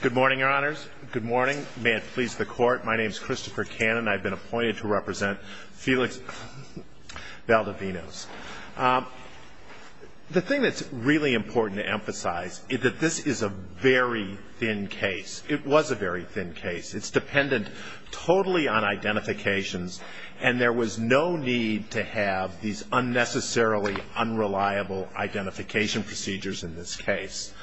Good morning, Your Honors. Good morning. May it please the Court, my name's Christopher Cannon. I've been appointed to represent Felix Valdovinos. The thing that's really important to emphasize is that this is a very thin case. It was a very thin case. It's dependent totally on identifications, and there was no need to have these unnecessarily unreliable identification procedures in this case.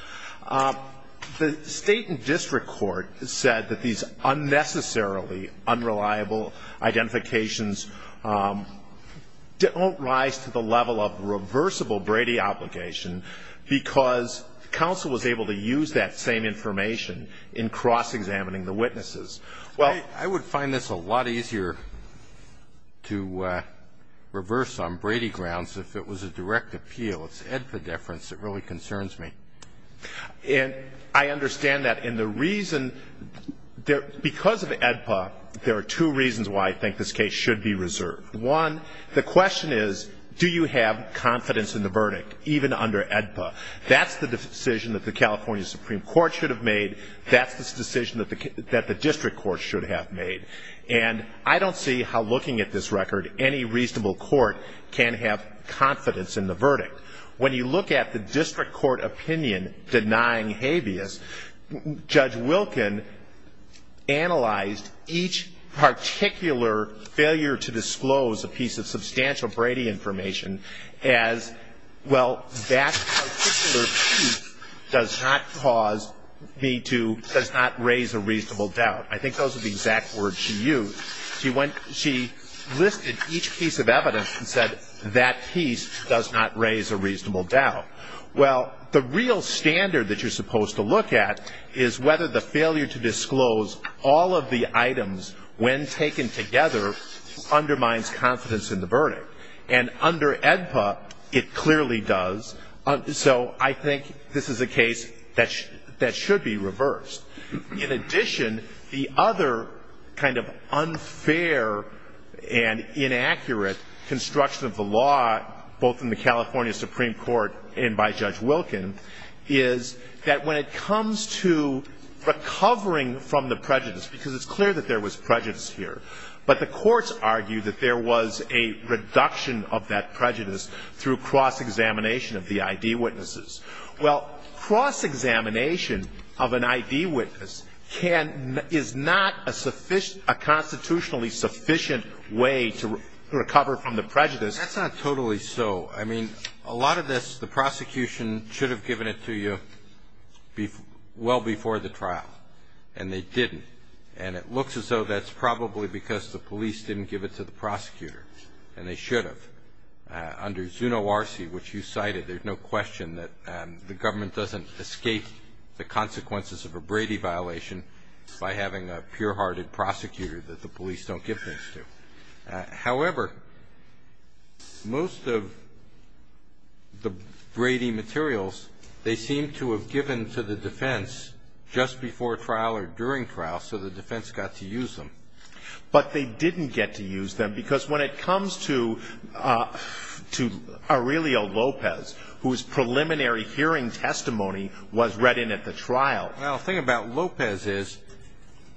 The State and District Court said that these unnecessarily unreliable identifications don't rise to the level of reversible Brady obligation because counsel was able to use that same information in cross-examining the witnesses. Well, I would find this a lot easier to reverse on Brady grounds if it was a direct appeal. It's epidephrines that really concerns me. And I understand that. And the reason, because of AEDPA, there are two reasons why I think this case should be reserved. One, the question is, do you have confidence in the verdict, even under AEDPA? That's the decision that the California Supreme Court should have made. That's the decision that the District Court should have made. And I don't see how looking at this record, any reasonable court can have confidence in the verdict. When you look at the District Court opinion denying habeas, Judge Wilkin analyzed each particular failure to disclose a piece of substantial Brady information as, well, that particular piece does not cause me to, does not raise a reasonable doubt. I think those are the exact words she used. She listed each piece of evidence and said that piece does not raise a reasonable doubt. Well, the real standard that you're supposed to look at is whether the failure to disclose all of the items when taken together undermines confidence in the verdict. And under AEDPA, it clearly does. So I think this is a case that should be reversed. In addition, the other kind of unfair and inaccurate construction of the law, both in the California Supreme Court and by Judge Wilkin, is that when it comes to recovering from the prejudice, because it's clear that there was prejudice here, but the courts argue that there was a reduction of that prejudice through cross-examination of the ID witnesses. Well, cross-examination of an ID witness is not a constitutionally sufficient way to recover from the prejudice. That's not totally so. I mean, a lot of this, the prosecution should have given it to you well before the trial, and they didn't. And it looks as though that's probably because the police didn't give it to the prosecutor, and they should have. Under ZUNORC, which you cited, there's no question that the government doesn't escape the consequences of a Brady violation by having a pure-hearted prosecutor that the police don't give things to. However, most of the Brady materials, they seem to have given to the defense just before trial or during trial, so the defense got to use them. But they didn't get to use them, because when it comes to Aurelio Lopez, whose preliminary hearing testimony was read in at the trial. Well, the thing about Lopez is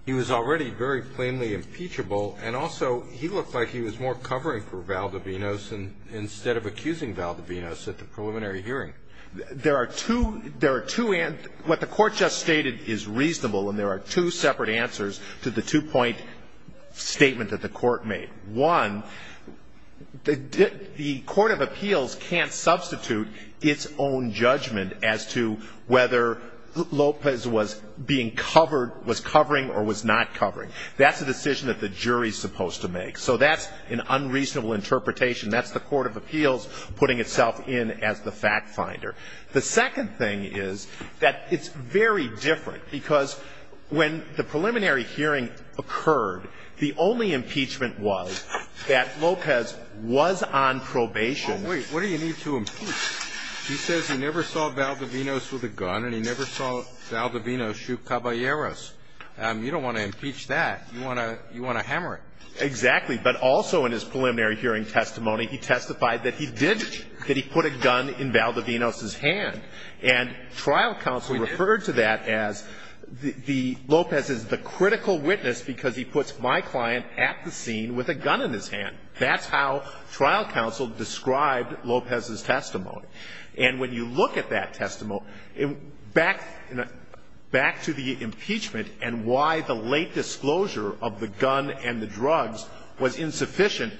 he was already very plainly impeachable. And also, he looked like he was more covering for Valdivinos instead of accusing Valdivinos at the preliminary hearing. There are two. What the court just stated is reasonable, and there are two separate answers to the two-point statement that the court made. One, the Court of Appeals can't substitute its own judgment as to whether Lopez was being covered, was covering, or was not covering. That's a decision that the jury's supposed to make. So that's an unreasonable interpretation. That's the Court of Appeals putting itself in as the fact finder. The second thing is that it's very different, because when the preliminary hearing occurred, the only impeachment was that Lopez was on probation. What do you need to impeach? He says he never saw Valdivinos with a gun, and he never saw Valdivinos shoot Caballeros. You don't want to impeach that. You want to hammer it. Exactly. But also, in his preliminary hearing testimony, he testified that he did put a gun in Valdivinos' hand. And trial counsel referred to that as Lopez is the critical witness, because he puts my client at the scene with a gun in his hand. That's how trial counsel described Lopez's testimony. And when you look at that testimony, back to the impeachment and why the late disclosure of the gun and the drugs was insufficient,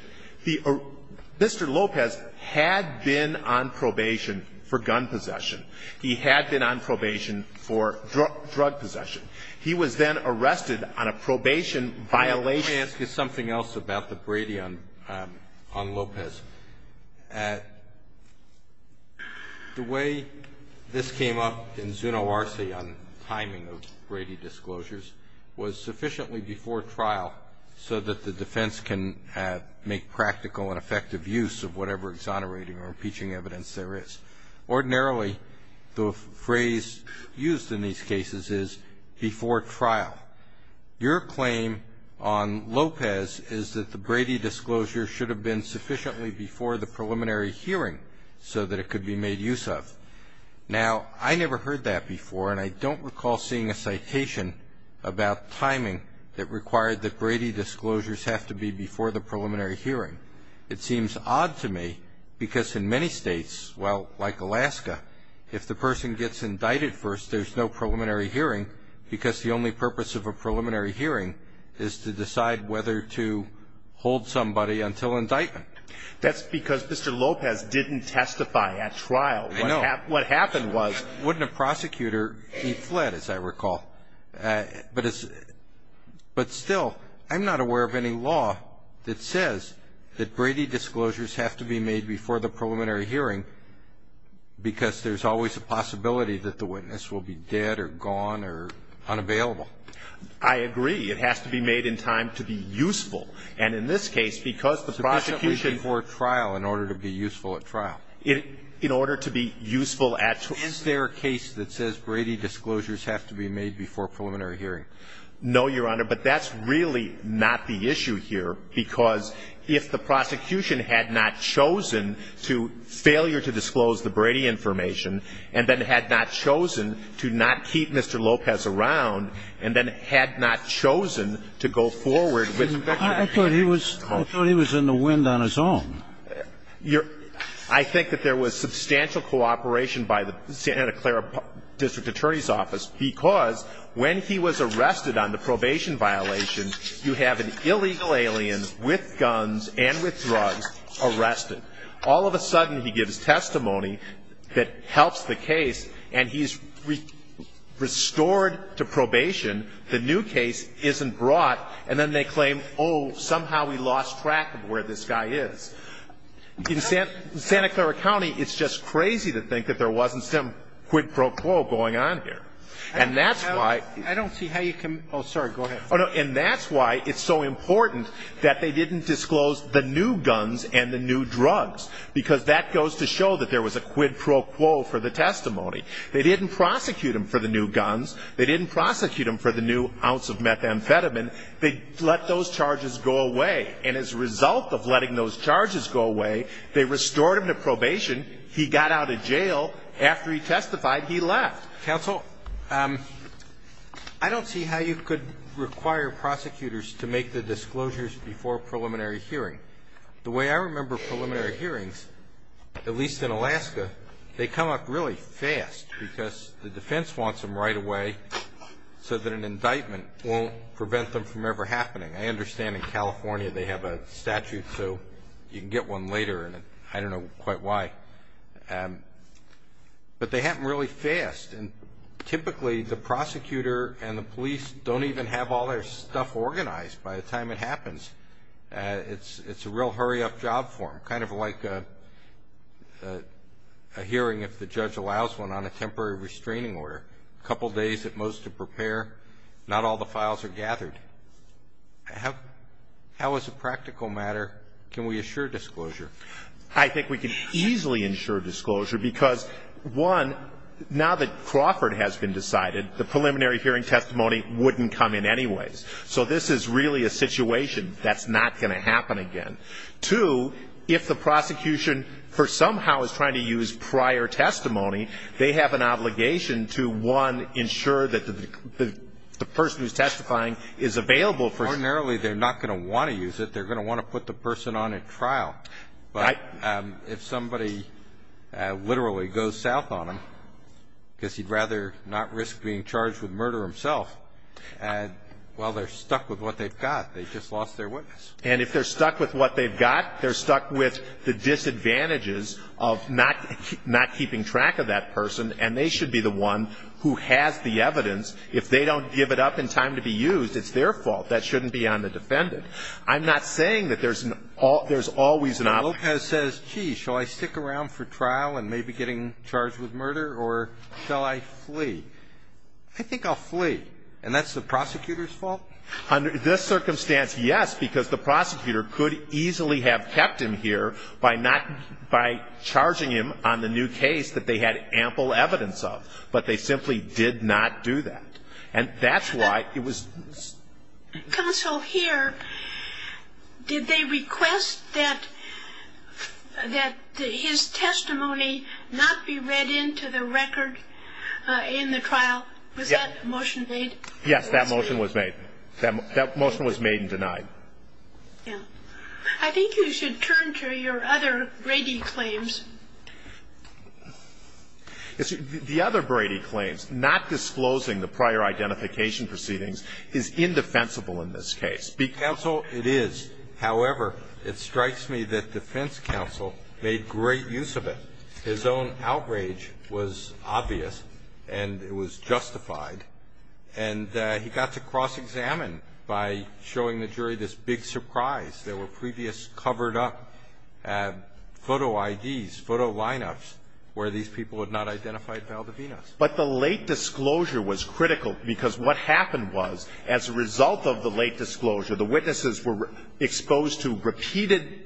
Mr. Lopez had been on probation for gun possession. He had been on probation for drug possession. He was then arrested on a probation violation. Let me ask you something else about the Brady on Lopez. The way this came up in Zuno-Arce on timing of Brady disclosures was sufficiently before trial so that the defense can make practical and effective use of whatever exonerating or impeaching evidence there is. Ordinarily, the phrase used in these cases is before trial. Your claim on Lopez is that the Brady disclosure should have been sufficiently before the preliminary hearing so that it could be made use of. Now, I never heard that before, and I don't recall seeing a citation about timing that required that Brady disclosures have to be before the preliminary hearing. It seems odd to me, because in many states, well, like Alaska, if the person gets indicted first, there's no preliminary hearing, because the only purpose of a preliminary hearing is to decide whether to hold somebody until indictment. That's because Mr. Lopez didn't testify at trial. I know. What happened was... Wouldn't a prosecutor be fled, as I recall. But still, I'm not aware of any law that says that Brady disclosures have to be made before the preliminary hearing because there's always a possibility that the witness will be dead or gone or unavailable. I agree. It has to be made in time to be useful. And in this case, because the prosecution... So this should be before trial in order to be useful at trial. In order to be useful at trial. Is there a case that says Brady disclosures have to be made before preliminary hearing? No, Your Honor, but that's really not the issue here, because if the prosecution had not chosen to failure to disclose the Brady information, and then had not chosen to not keep Mr. Lopez around, and then had not chosen to go forward with... I thought he was in the wind on his own. I think that there was substantial cooperation by the Santa Clara District Attorney's Office because when he was arrested on the probation violation, you have an illegal alien with guns and with drugs arrested. All of a sudden, he gives testimony that helps the case, and he's restored to probation. The new case isn't brought, and then they claim, oh, somehow we lost track of where this guy is. In Santa Clara County, it's just crazy to think that there wasn't some quid pro quo going on here. And that's why... I don't see how you can... Oh, sorry, go ahead. Oh, no, and that's why it's so important that they didn't disclose the new guns and the new drugs, because that goes to show that there was a quid pro quo for the testimony. They didn't prosecute him for the new guns. They didn't prosecute him for the new ounce of methamphetamine. They let those charges go away. And as a result of letting those charges go away, they restored him to probation. He got out of jail. After he testified, he left. Counsel, I don't see how you could require prosecutors to make the disclosures before preliminary hearing. The way I remember preliminary hearings, at least in Alaska, they come up really fast because the defense wants them right away so that an indictment won't prevent them from ever happening. I understand in California, they have a statute, so you can get one later, and I don't know quite why. But they happen really fast. And typically, the prosecutor and the police don't even have all their stuff organized by the time it happens. It's a real hurry-up job for them, kind of like a hearing, if the judge allows one, on a temporary restraining order. Couple days at most to prepare. Not all the files are gathered. How, as a practical matter, can we assure disclosure? I think we can easily ensure disclosure because, one, now that Crawford has been decided, the preliminary hearing testimony wouldn't come in anyways. So this is really a situation that's not gonna happen again. Two, if the prosecution, for somehow, is trying to use prior testimony, they have an obligation to, one, ensure that the person who's testifying is available for... Ordinarily, they're not gonna wanna use it. They're gonna wanna put the person on at trial. But if somebody literally goes south on him, because he'd rather not risk being charged with murder himself, well, they're stuck with what they've got. They just lost their witness. And if they're stuck with what they've got, they're stuck with the disadvantages of not keeping track of that person, and they should be the one who has the evidence. If they don't give it up in time to be used, it's their fault. That shouldn't be on the defendant. I'm not saying that there's always an... Lopez says, gee, shall I stick around for trial and maybe getting charged with murder, or shall I flee? I think I'll flee. And that's the prosecutor's fault? Under this circumstance, yes, because the prosecutor could easily have kept him here by charging him on the new case that they had ample evidence of, but they simply did not do that. And that's why it was... Counsel, here, did they request that his testimony not be read into the record in the trial? Was that motion made? Yes, that motion was made. That motion was made and denied. Yeah. I think you should turn to your other Brady claims. The other Brady claims, not disclosing the prior identification proceedings is indefensible in this case. Counsel, it is. However, it strikes me that defense counsel made great use of it. His own outrage was obvious, and it was justified. And he got to cross-examine by showing the jury this big surprise. There were previous covered up photo IDs, photo lineups, where these people had not identified Valdivinas. But the late disclosure was critical because what happened was, as a result of the late disclosure, the witnesses were exposed to repeated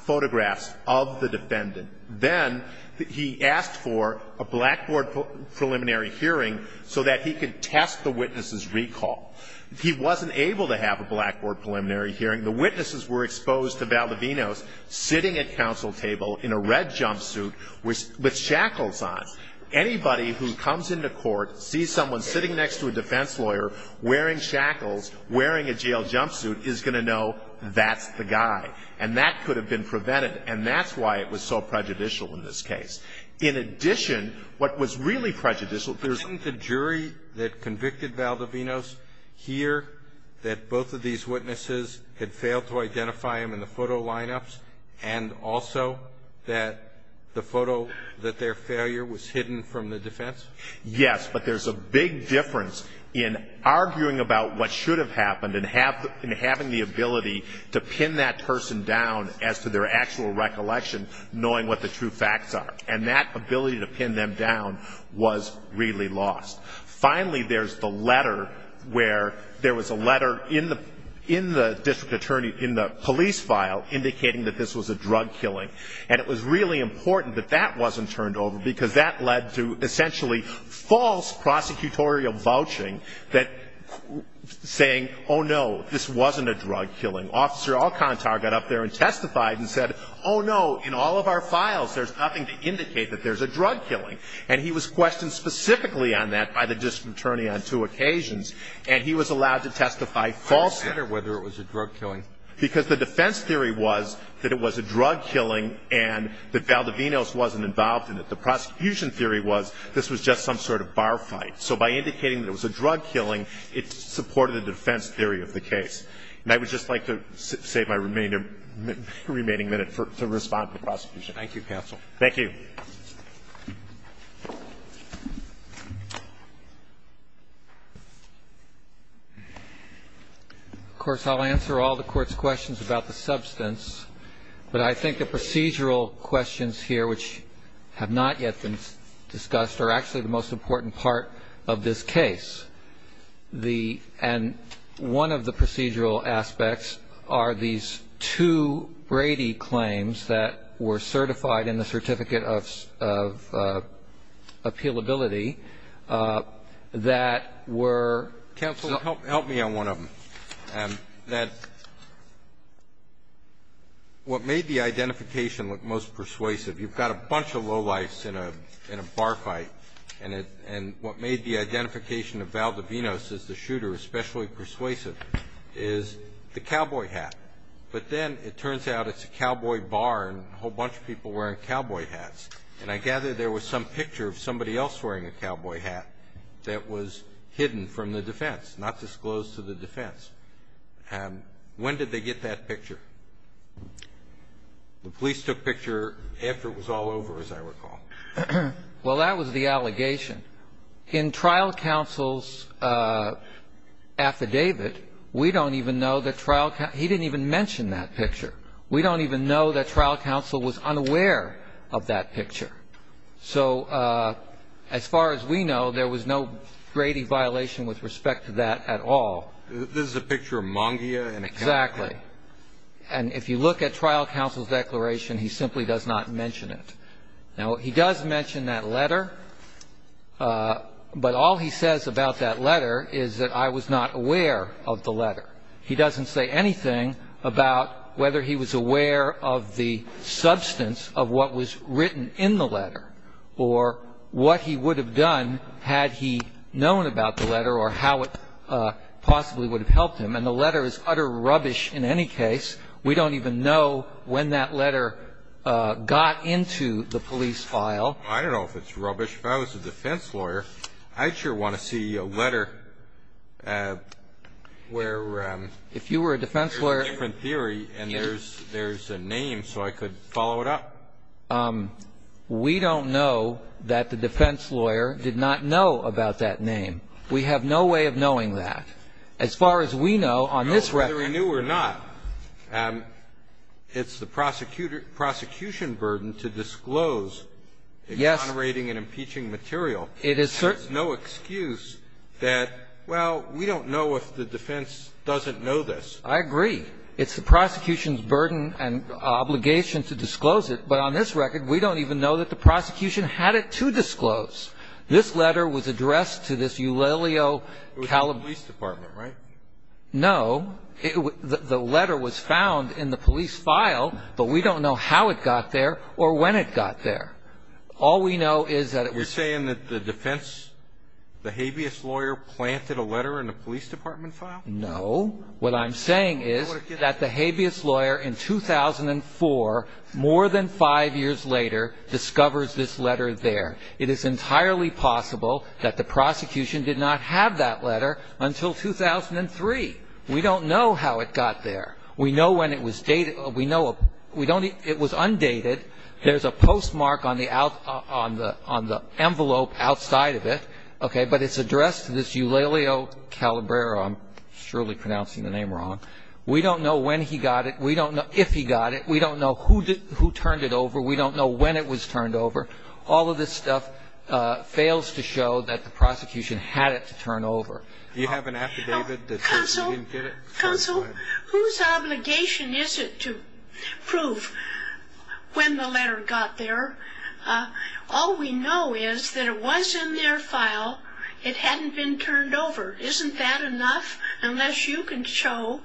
photographs of the defendant. Then he asked for a blackboard preliminary hearing so that he could test the witness's recall. He wasn't able to have a blackboard preliminary hearing. The witnesses were exposed to Valdivinas sitting at counsel table in a red jumpsuit with shackles on. Anybody who comes into court, sees someone sitting next to a defense lawyer wearing shackles, wearing a jail jumpsuit, is going to know that's the guy. And that could have been prevented. And that's why it was so prejudicial in this case. In addition, what was really prejudicial, the jury that convicted Valdivinas hear that both of these witnesses had failed to identify him in the photo lineups and also that the photo, that their failure was hidden from the defense? Yes, but there's a big difference in arguing about what should have happened and having the ability to pin that person down as to their actual recollection, knowing what the true facts are. And that ability to pin them down was really lost. Finally, there's the letter where there was a letter in the police file indicating that this was a drug killing. And it was really important that that wasn't turned over because that led to essentially false prosecutorial vouching that saying, oh no, this wasn't a drug killing. Officer Alcantara got up there and testified and said, oh no, in all of our files, there's nothing to indicate that there's a drug killing. And he was questioned specifically on that by the district attorney on two occasions. And he was allowed to testify falsely. Or whether it was a drug killing. Because the defense theory was that it was a drug killing and that Valdivinas wasn't involved in it. The prosecution theory was this was just some sort of bar fight. So by indicating that it was a drug killing, it supported the defense theory of the case. And I would just like to save my remaining minute to respond to the prosecution. Thank you, counsel. Thank you. Of course, I'll answer all the court's questions about the substance. But I think the procedural questions here, which have not yet been discussed, are actually the most important part of this case. And one of the procedural aspects are these two Brady claims that were certified in the Certificate of Appealability that were. Counsel, help me on one of them. What made the identification look most persuasive, you've got a bunch of lowlifes in a bar fight. And what made the identification of Valdivinas as the shooter especially persuasive is the cowboy hat. But then it turns out it's a cowboy bar and a whole bunch of people wearing cowboy hats. And I gather there was some picture of somebody else wearing a cowboy hat that was hidden from the defense, not disclosed to the defense. When did they get that picture? The police took picture after it was all over, as I recall. Well, that was the allegation. In trial counsel's affidavit, we don't even know that trial, he didn't even mention that picture. We don't even know that trial counsel was unaware of that picture. So as far as we know, there was no Brady violation with respect to that at all. This is a picture of Mongia in a county. Exactly. And if you look at trial counsel's declaration, he simply does not mention it. Now, he does mention that letter. But all he says about that letter is that I was not aware of the letter. He doesn't say anything about whether he was aware of the substance of what was written in the letter or what he would have done had he known about the letter or how it possibly would have helped him. And the letter is utter rubbish in any case. We don't even know when that letter got into the police file. I don't know if it's rubbish. If I was a defense lawyer, I'd sure want to see a letter where there's a different theory and there's a name so I could follow it up. We don't know that the defense lawyer did not know about that name. We have no way of knowing that. As far as we know, on this record. Whether we knew or not, it's the prosecution burden to disclose exonerating and impeaching material. It is certain. There's no excuse that, well, we don't know if the defense doesn't know this. I agree. It's the prosecution's burden and obligation to disclose it. But on this record, we don't even know that the prosecution had it to disclose. This letter was addressed to this Eulalio Calabria. It was the police department, right? No. The letter was found in the police file, but we don't know how it got there or when it got there. All we know is that it was. You're saying that the defense, the habeas lawyer, planted a letter in a police department file? No. What I'm saying is that the habeas lawyer in 2004, more than five years later, discovers this letter there. It is entirely possible that the prosecution did not have that letter until 2003. We don't know how it got there. We know when it was dated. We know it was undated. There's a postmark on the envelope outside of it, OK? But it's addressed to this Eulalio Calabria. I'm surely pronouncing the name wrong. We don't know when he got it. We don't know if he got it. We don't know who turned it over. We don't know when it was turned over. All of this stuff fails to show that the prosecution had it to turn over. Do you have an affidavit that says he didn't get it? Counsel, whose obligation is it to prove when the letter got there? All we know is that it was in their file. It hadn't been turned over. Isn't that enough? Unless you can show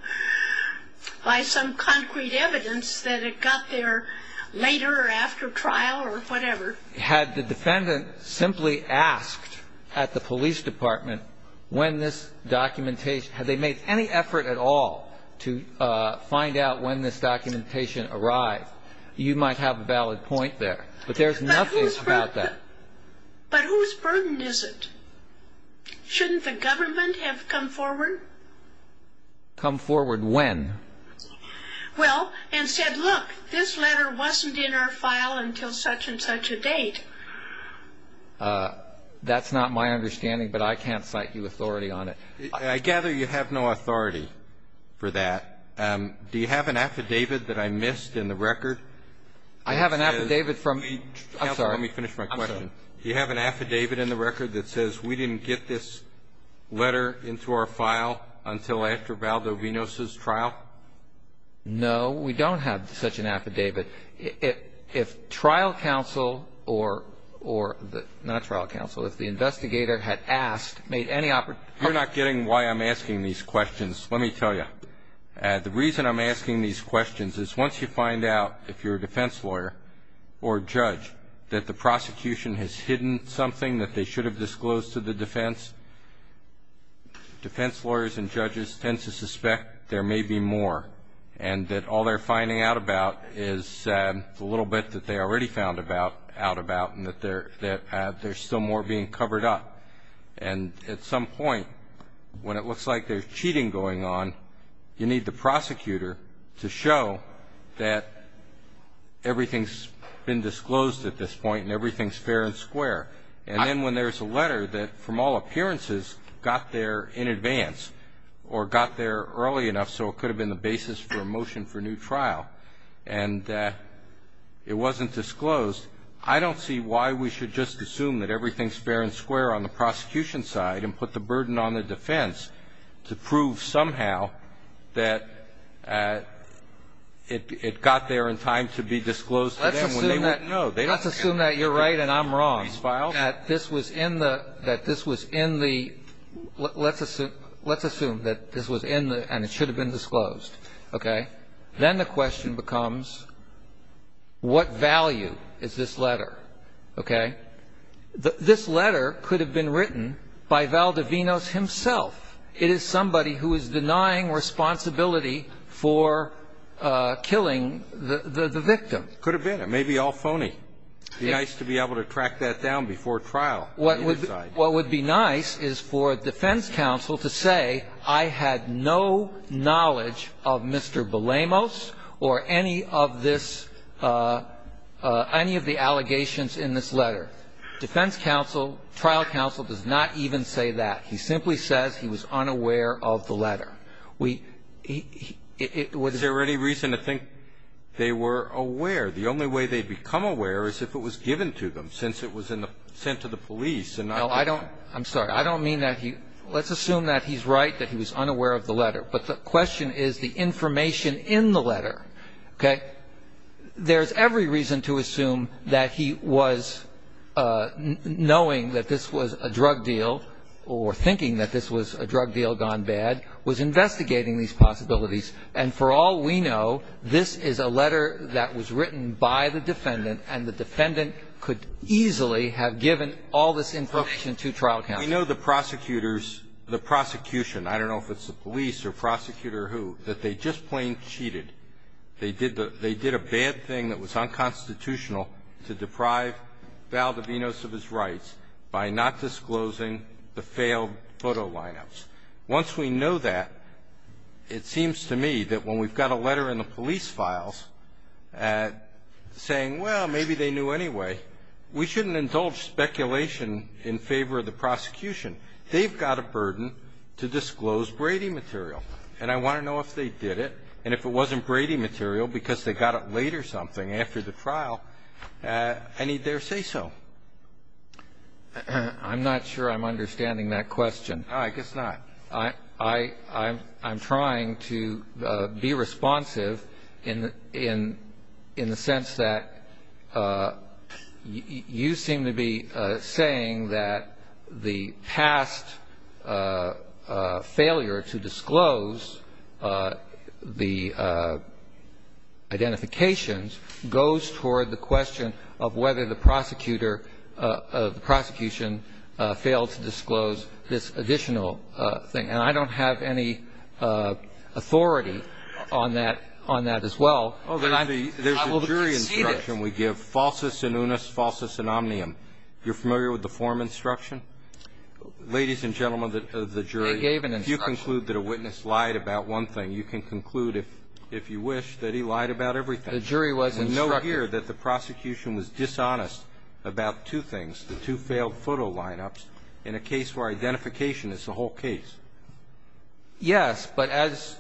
by some concrete evidence that it got there later or after trial or whatever. Had the defendant simply asked at the police department when this documentation, had they made any effort at all to find out when this documentation arrived, you might have a valid point there. But there's nothing about that. But whose burden is it? Shouldn't the government have come forward? Come forward when? Well, and said, look, this letter wasn't in our file until such and such a date. That's not my understanding, but I can't cite you authority on it. I gather you have no authority for that. Do you have an affidavit that I missed in the record? I have an affidavit from the counsel. Let me finish my question. Do you have an affidavit in the record that says, we didn't get this letter into our file until after Valdovinos' trial? No, we don't have such an affidavit. If trial counsel or, not trial counsel, if the investigator had asked, made any offer. You're not getting why I'm asking these questions, let me tell you. The reason I'm asking these questions is once you find out if you're a defense lawyer or judge that the prosecution has hidden something that they should have disclosed to the defense, defense lawyers and judges tend to suspect there may be more. And that all they're finding out about is the little bit that they already found out about, and that there's still more being covered up. And at some point, when it looks like there's cheating going on, you need the prosecutor to show that everything's been disclosed at this point, and everything's fair and square. And then when there's a letter that, from all appearances, got there in advance, or got there early enough, so it could have been the basis for a motion for new trial, and it wasn't disclosed, I don't see why we should just assume that everything's been disclosed to the prosecution side and put the burden on the defense to prove somehow that it got there in time to be disclosed to them when they wouldn't know. Let's assume that you're right and I'm wrong. These files? That this was in the, let's assume that this was in the, and it should have been disclosed. Then the question becomes, what value is this letter? OK? This letter could have been written by Valdevinos himself. It is somebody who is denying responsibility for killing the victim. Could have been. It may be all phony. It'd be nice to be able to track that down before trial. What would be nice is for defense counsel to say, I had no knowledge of Mr. Belamos or any of this, any of the allegations in this letter. Defense counsel, trial counsel does not even say that. He simply says he was unaware of the letter. We, it was. Is there any reason to think they were aware? The only way they'd become aware is if it was given to them since it was sent to the police. And I don't, I'm sorry, I don't mean that he, let's assume that he's right, that he was unaware of the letter. But the question is the information in the letter. OK? There's every reason to assume that he was knowing that this was a drug deal, or thinking that this was a drug deal gone bad, was investigating these possibilities. And for all we know, this is a letter that was written by the defendant, and the defendant could easily have given all this information to trial counsel. We know the prosecutors, the prosecution, I don't know if it's the police or prosecutor or who, that they just plain cheated. They did a bad thing that was unconstitutional to deprive Valdevinos of his rights by not disclosing the failed photo line-ups. Once we know that, it seems to me that when we've got a letter in the police files saying, well, maybe they knew anyway, we shouldn't indulge speculation in favor of the prosecution. They've got a burden to disclose Brady material. And I want to know if they did it, and if it wasn't Brady material because they got it late or something after the trial, I need there say so. I'm not sure I'm understanding that question. I guess not. I'm trying to be responsive in the sense that you seem to be saying that the past failure to disclose the identifications goes toward the question of whether the prosecution failed to disclose this additional thing. And I don't have any authority on that as well. Well, there's a jury instruction we give, falsus in unis, falsus in omnium. You're familiar with the form instruction? Ladies and gentlemen of the jury, if you conclude that a witness lied about one thing, you can conclude, if you wish, that he lied about everything. The jury was instructed. We know here that the prosecution was dishonest about two things, the two failed photo line-ups. In a case where identification is the whole case. Yes, but as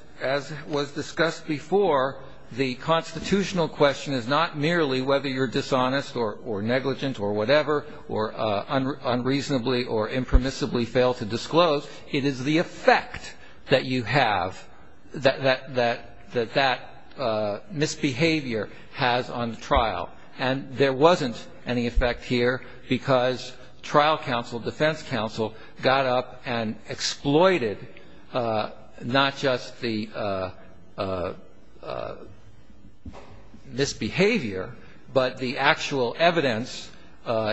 was discussed before, the constitutional question is not merely whether you're dishonest or negligent or whatever, or unreasonably or impermissibly fail to disclose. It is the effect that you have, that that misbehavior has on the trial. And there wasn't any effect here, because trial counsel, defense counsel, got up and exploited not just the misbehavior, but the actual evidence.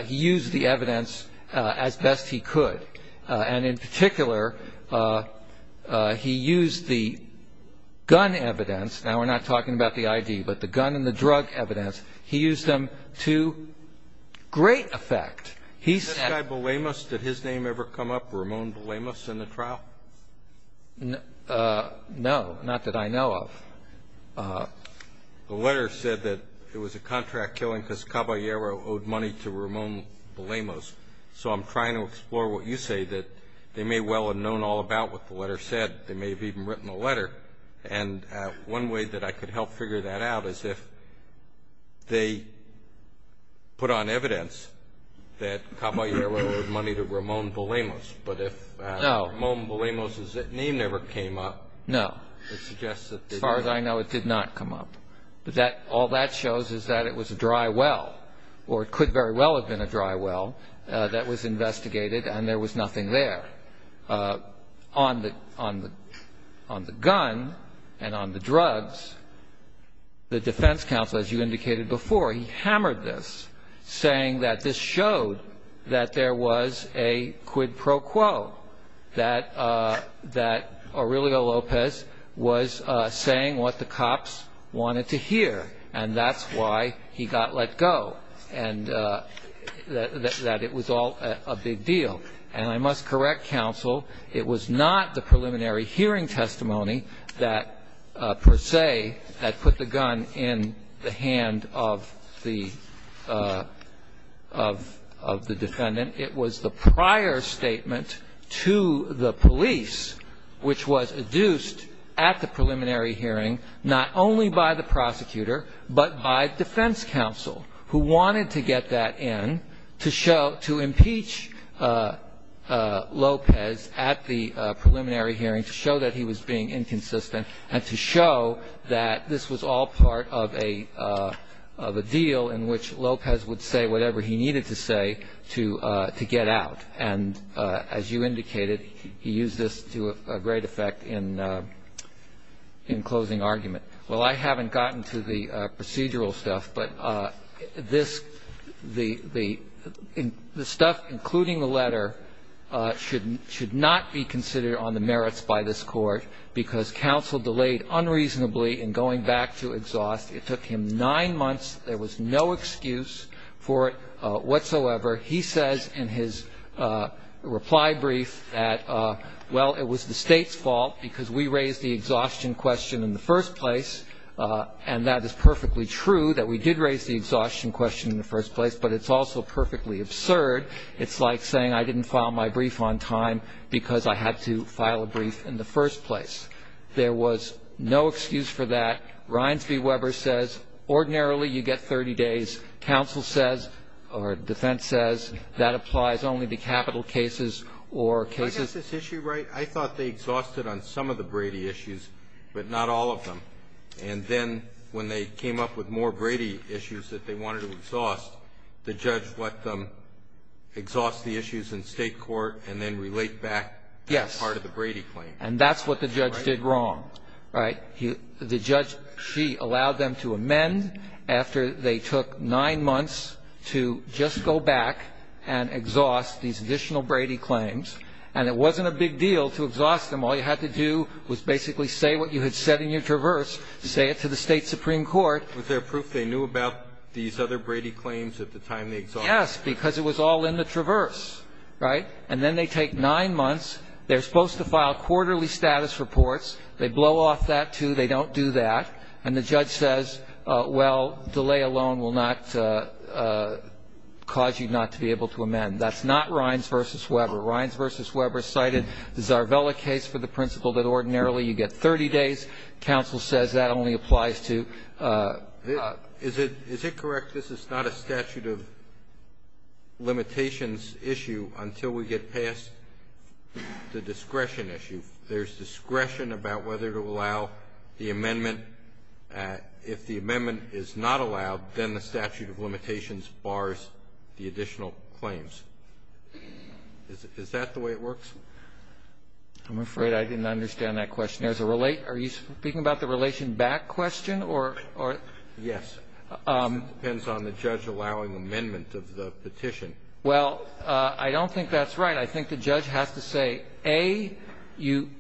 He used the evidence as best he could. And in particular, he used the gun evidence. Now we're not talking about the ID, but the gun and the drug evidence. He used them to great effect. Is this guy Bulemos? Did his name ever come up, Ramon Bulemos, in the trial? No, not that I know of. The letter said that it was a contract killing, because Caballero owed money to Ramon Bulemos. So I'm trying to explore what you say, that they may well have known all about what the letter said. They may have even written a letter. And one way that I could help figure that out is if they put on evidence that Caballero owed money to Ramon Bulemos. But if Ramon Bulemos' name never came up, it suggests that they did not. As far as I know, it did not come up. But all that shows is that it was a dry well, or it could very well have been a dry well, that was investigated. And there was nothing there. On the gun and on the drugs, the defense counsel, as you indicated before, he hammered this, saying that this showed that there was a quid pro quo, that Aurelio Lopez was saying what the cops wanted to hear. And that's why he got let go, and that it was all a big deal. And I must correct counsel. It was not the preliminary hearing testimony that, per se, had put the gun in the hand of the defendant. It was the prior statement to the police, which was adduced at the preliminary hearing, not only by the prosecutor, but by defense counsel, who wanted to get that in to impeach Lopez at the preliminary hearing, to show that he was being inconsistent, and to show that this was all part of a deal in which Lopez would say whatever he needed to say to get out. And as you indicated, he used this to a great effect in closing argument. Well, I haven't gotten to the procedural stuff, but the stuff, including the letter, should not be considered on the merits by this Court, because counsel delayed unreasonably in going back to exhaust. It took him nine months. There was no excuse for it whatsoever. He says in his reply brief that, well, it was the state's fault, because we raised the exhaustion question in the first place. And that is perfectly true, that we did raise the exhaustion question in the first place, but it's also perfectly absurd. It's like saying, I didn't file my brief on time, because I had to file a brief in the first place. There was no excuse for that. Rines v. Weber says, ordinarily, you get 30 days. Counsel says, or defense says, that applies only to capital cases or cases. Do I get this issue right? I thought they exhausted on some of the Brady issues, but not all of them. And then, when they came up with more Brady issues that they wanted to exhaust, the judge let them exhaust the issues in state court and then relate back as part of the Brady claim. And that's what the judge did wrong. The judge, she allowed them to amend after they took nine months to just go back and exhaust these additional Brady claims. And it wasn't a big deal to exhaust them. All you had to do was basically say what you had said in your traverse, say it to the state Supreme Court. Was there proof they knew about these other Brady claims at the time they exhausted them? Yes, because it was all in the traverse, right? And then they take nine months. They're supposed to file quarterly status reports. They blow off that, too. They don't do that. And the judge says, well, delay alone will not cause you not to be able to amend. That's not Rines v. Weber. Rines v. Weber cited the Zarvella case for the principle that ordinarily you get 30 days. Counsel says that only applies to the other. Is it correct this is not a statute of limitations issue until we get past the discretion issue? There's discretion about whether to allow the amendment. If the amendment is not allowed, then the statute of limitations bars the additional claims. Is that the way it works? I'm afraid I didn't understand that question. Are you speaking about the relation back question or? Yes. It depends on the judge allowing amendment of the petition. Well, I don't think that's right. I think the judge has to say, A, you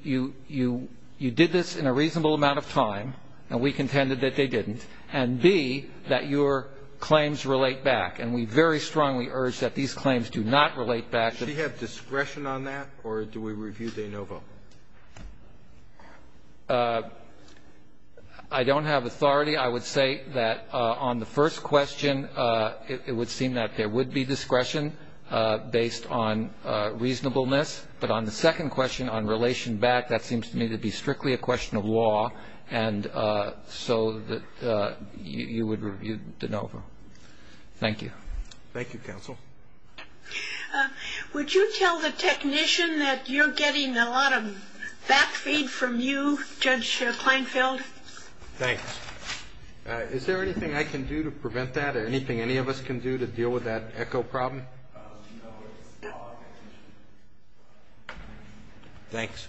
did this in a reasonable amount of time, and we contended that they didn't, and B, that your claims relate back. And we very strongly urge that these claims do not relate back. Does she have discretion on that, or do we review de novo? I don't have authority. I would say that on the first question, it would seem that there would be discretion based on reasonableness. But on the second question, on relation back, that seems to me to be strictly a question of law. And so you would review de novo. Thank you. Thank you, counsel. Would you tell the technician that you're getting a lot of back feed from you, Judge Kleinfeld? Thanks. Is there anything I can do to prevent that, or anything any of us can do to deal with that echo problem? No, it's all up to the technician. Thanks.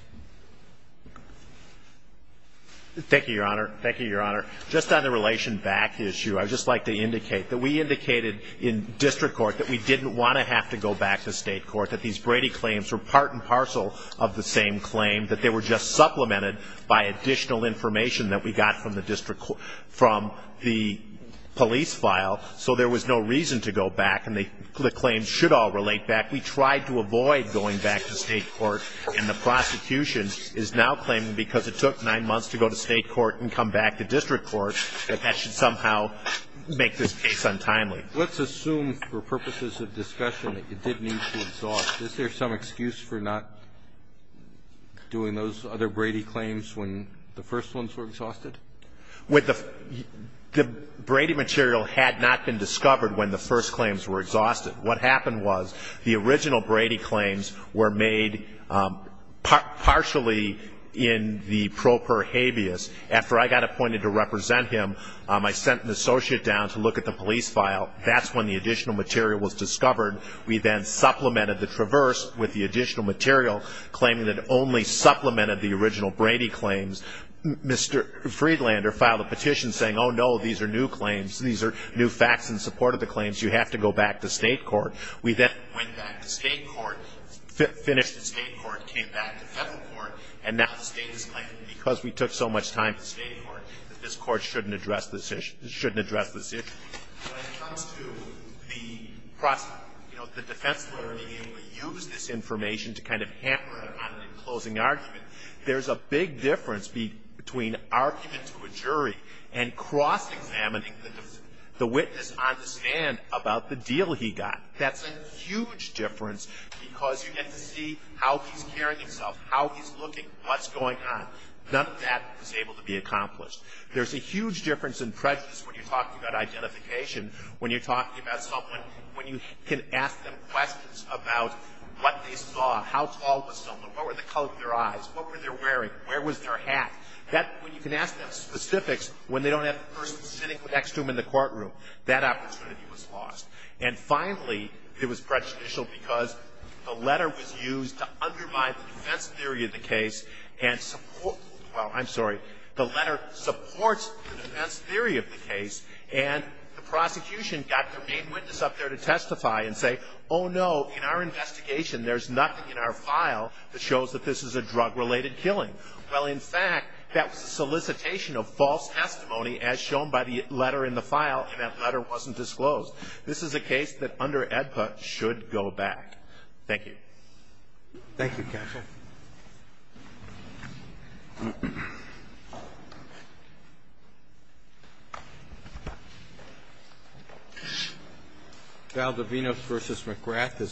Thank you, Your Honor. Thank you, Your Honor. Just on the relation back issue, I'd just like to indicate that we indicated in district court that we didn't want to have to go back to state court, that these Brady claims were part and parcel of the same claim, that they were just supplemented by additional information that we got from the police file, so there was no reason to go back. And the claims should all relate back. We tried to avoid going back to state court, and the prosecution is now claiming, because it took nine months to go to state court and come back to district court, that that should somehow make this case untimely. Let's assume, for purposes of discussion, that you did need to exhaust. Is there some excuse for not doing those other Brady claims when the first ones were exhausted? The Brady material had not been discovered when the first claims were exhausted. What happened was, the original Brady claims were made partially in the pro per habeas. After I got appointed to represent him, I sent an associate down to look at the police file. That's when the additional material was discovered. We then supplemented the traverse with the additional material, claiming that it only supplemented the original Brady claims. Mr. Friedlander filed a petition saying, oh, no, these are new claims. These are new facts in support of the claims. You have to go back to state court. We then went back to state court, finished in state court, came back to federal court, and now the state is claiming, because we took so much time in state court, that this court shouldn't address this issue. When it comes to the defense lawyer being able to use this information to kind of hamper him on the closing argument, there's a big difference between arguing to a jury and cross-examining the witness on the stand about the deal he got. That's a huge difference, because you get to see how he's carrying himself, how he's looking, what's going on. None of that is able to be accomplished. There's a huge difference in prejudice when you're talking about identification, when you're talking about someone, when you can ask them questions about what they saw, how tall was someone, what were the color of their eyes, what were they wearing, where was their hat, when you can ask them specifics when they don't have the person sitting next to them in the courtroom. That opportunity was lost. And finally, it was prejudicial because the letter was used to undermine the defense theory of the case and support, well, I'm sorry, the letter supports the defense theory of the case, and the prosecution got their main witness up there to testify and say, oh no, in our investigation, there's nothing in our file that shows that this is a drug-related killing. Well, in fact, that was a solicitation of false testimony, as shown by the letter in the file, and that letter wasn't disclosed. This is a case that, under AEDPA, should go back. Thank you. Thank you, Counsel. Valdovino v. McGrath is submitted.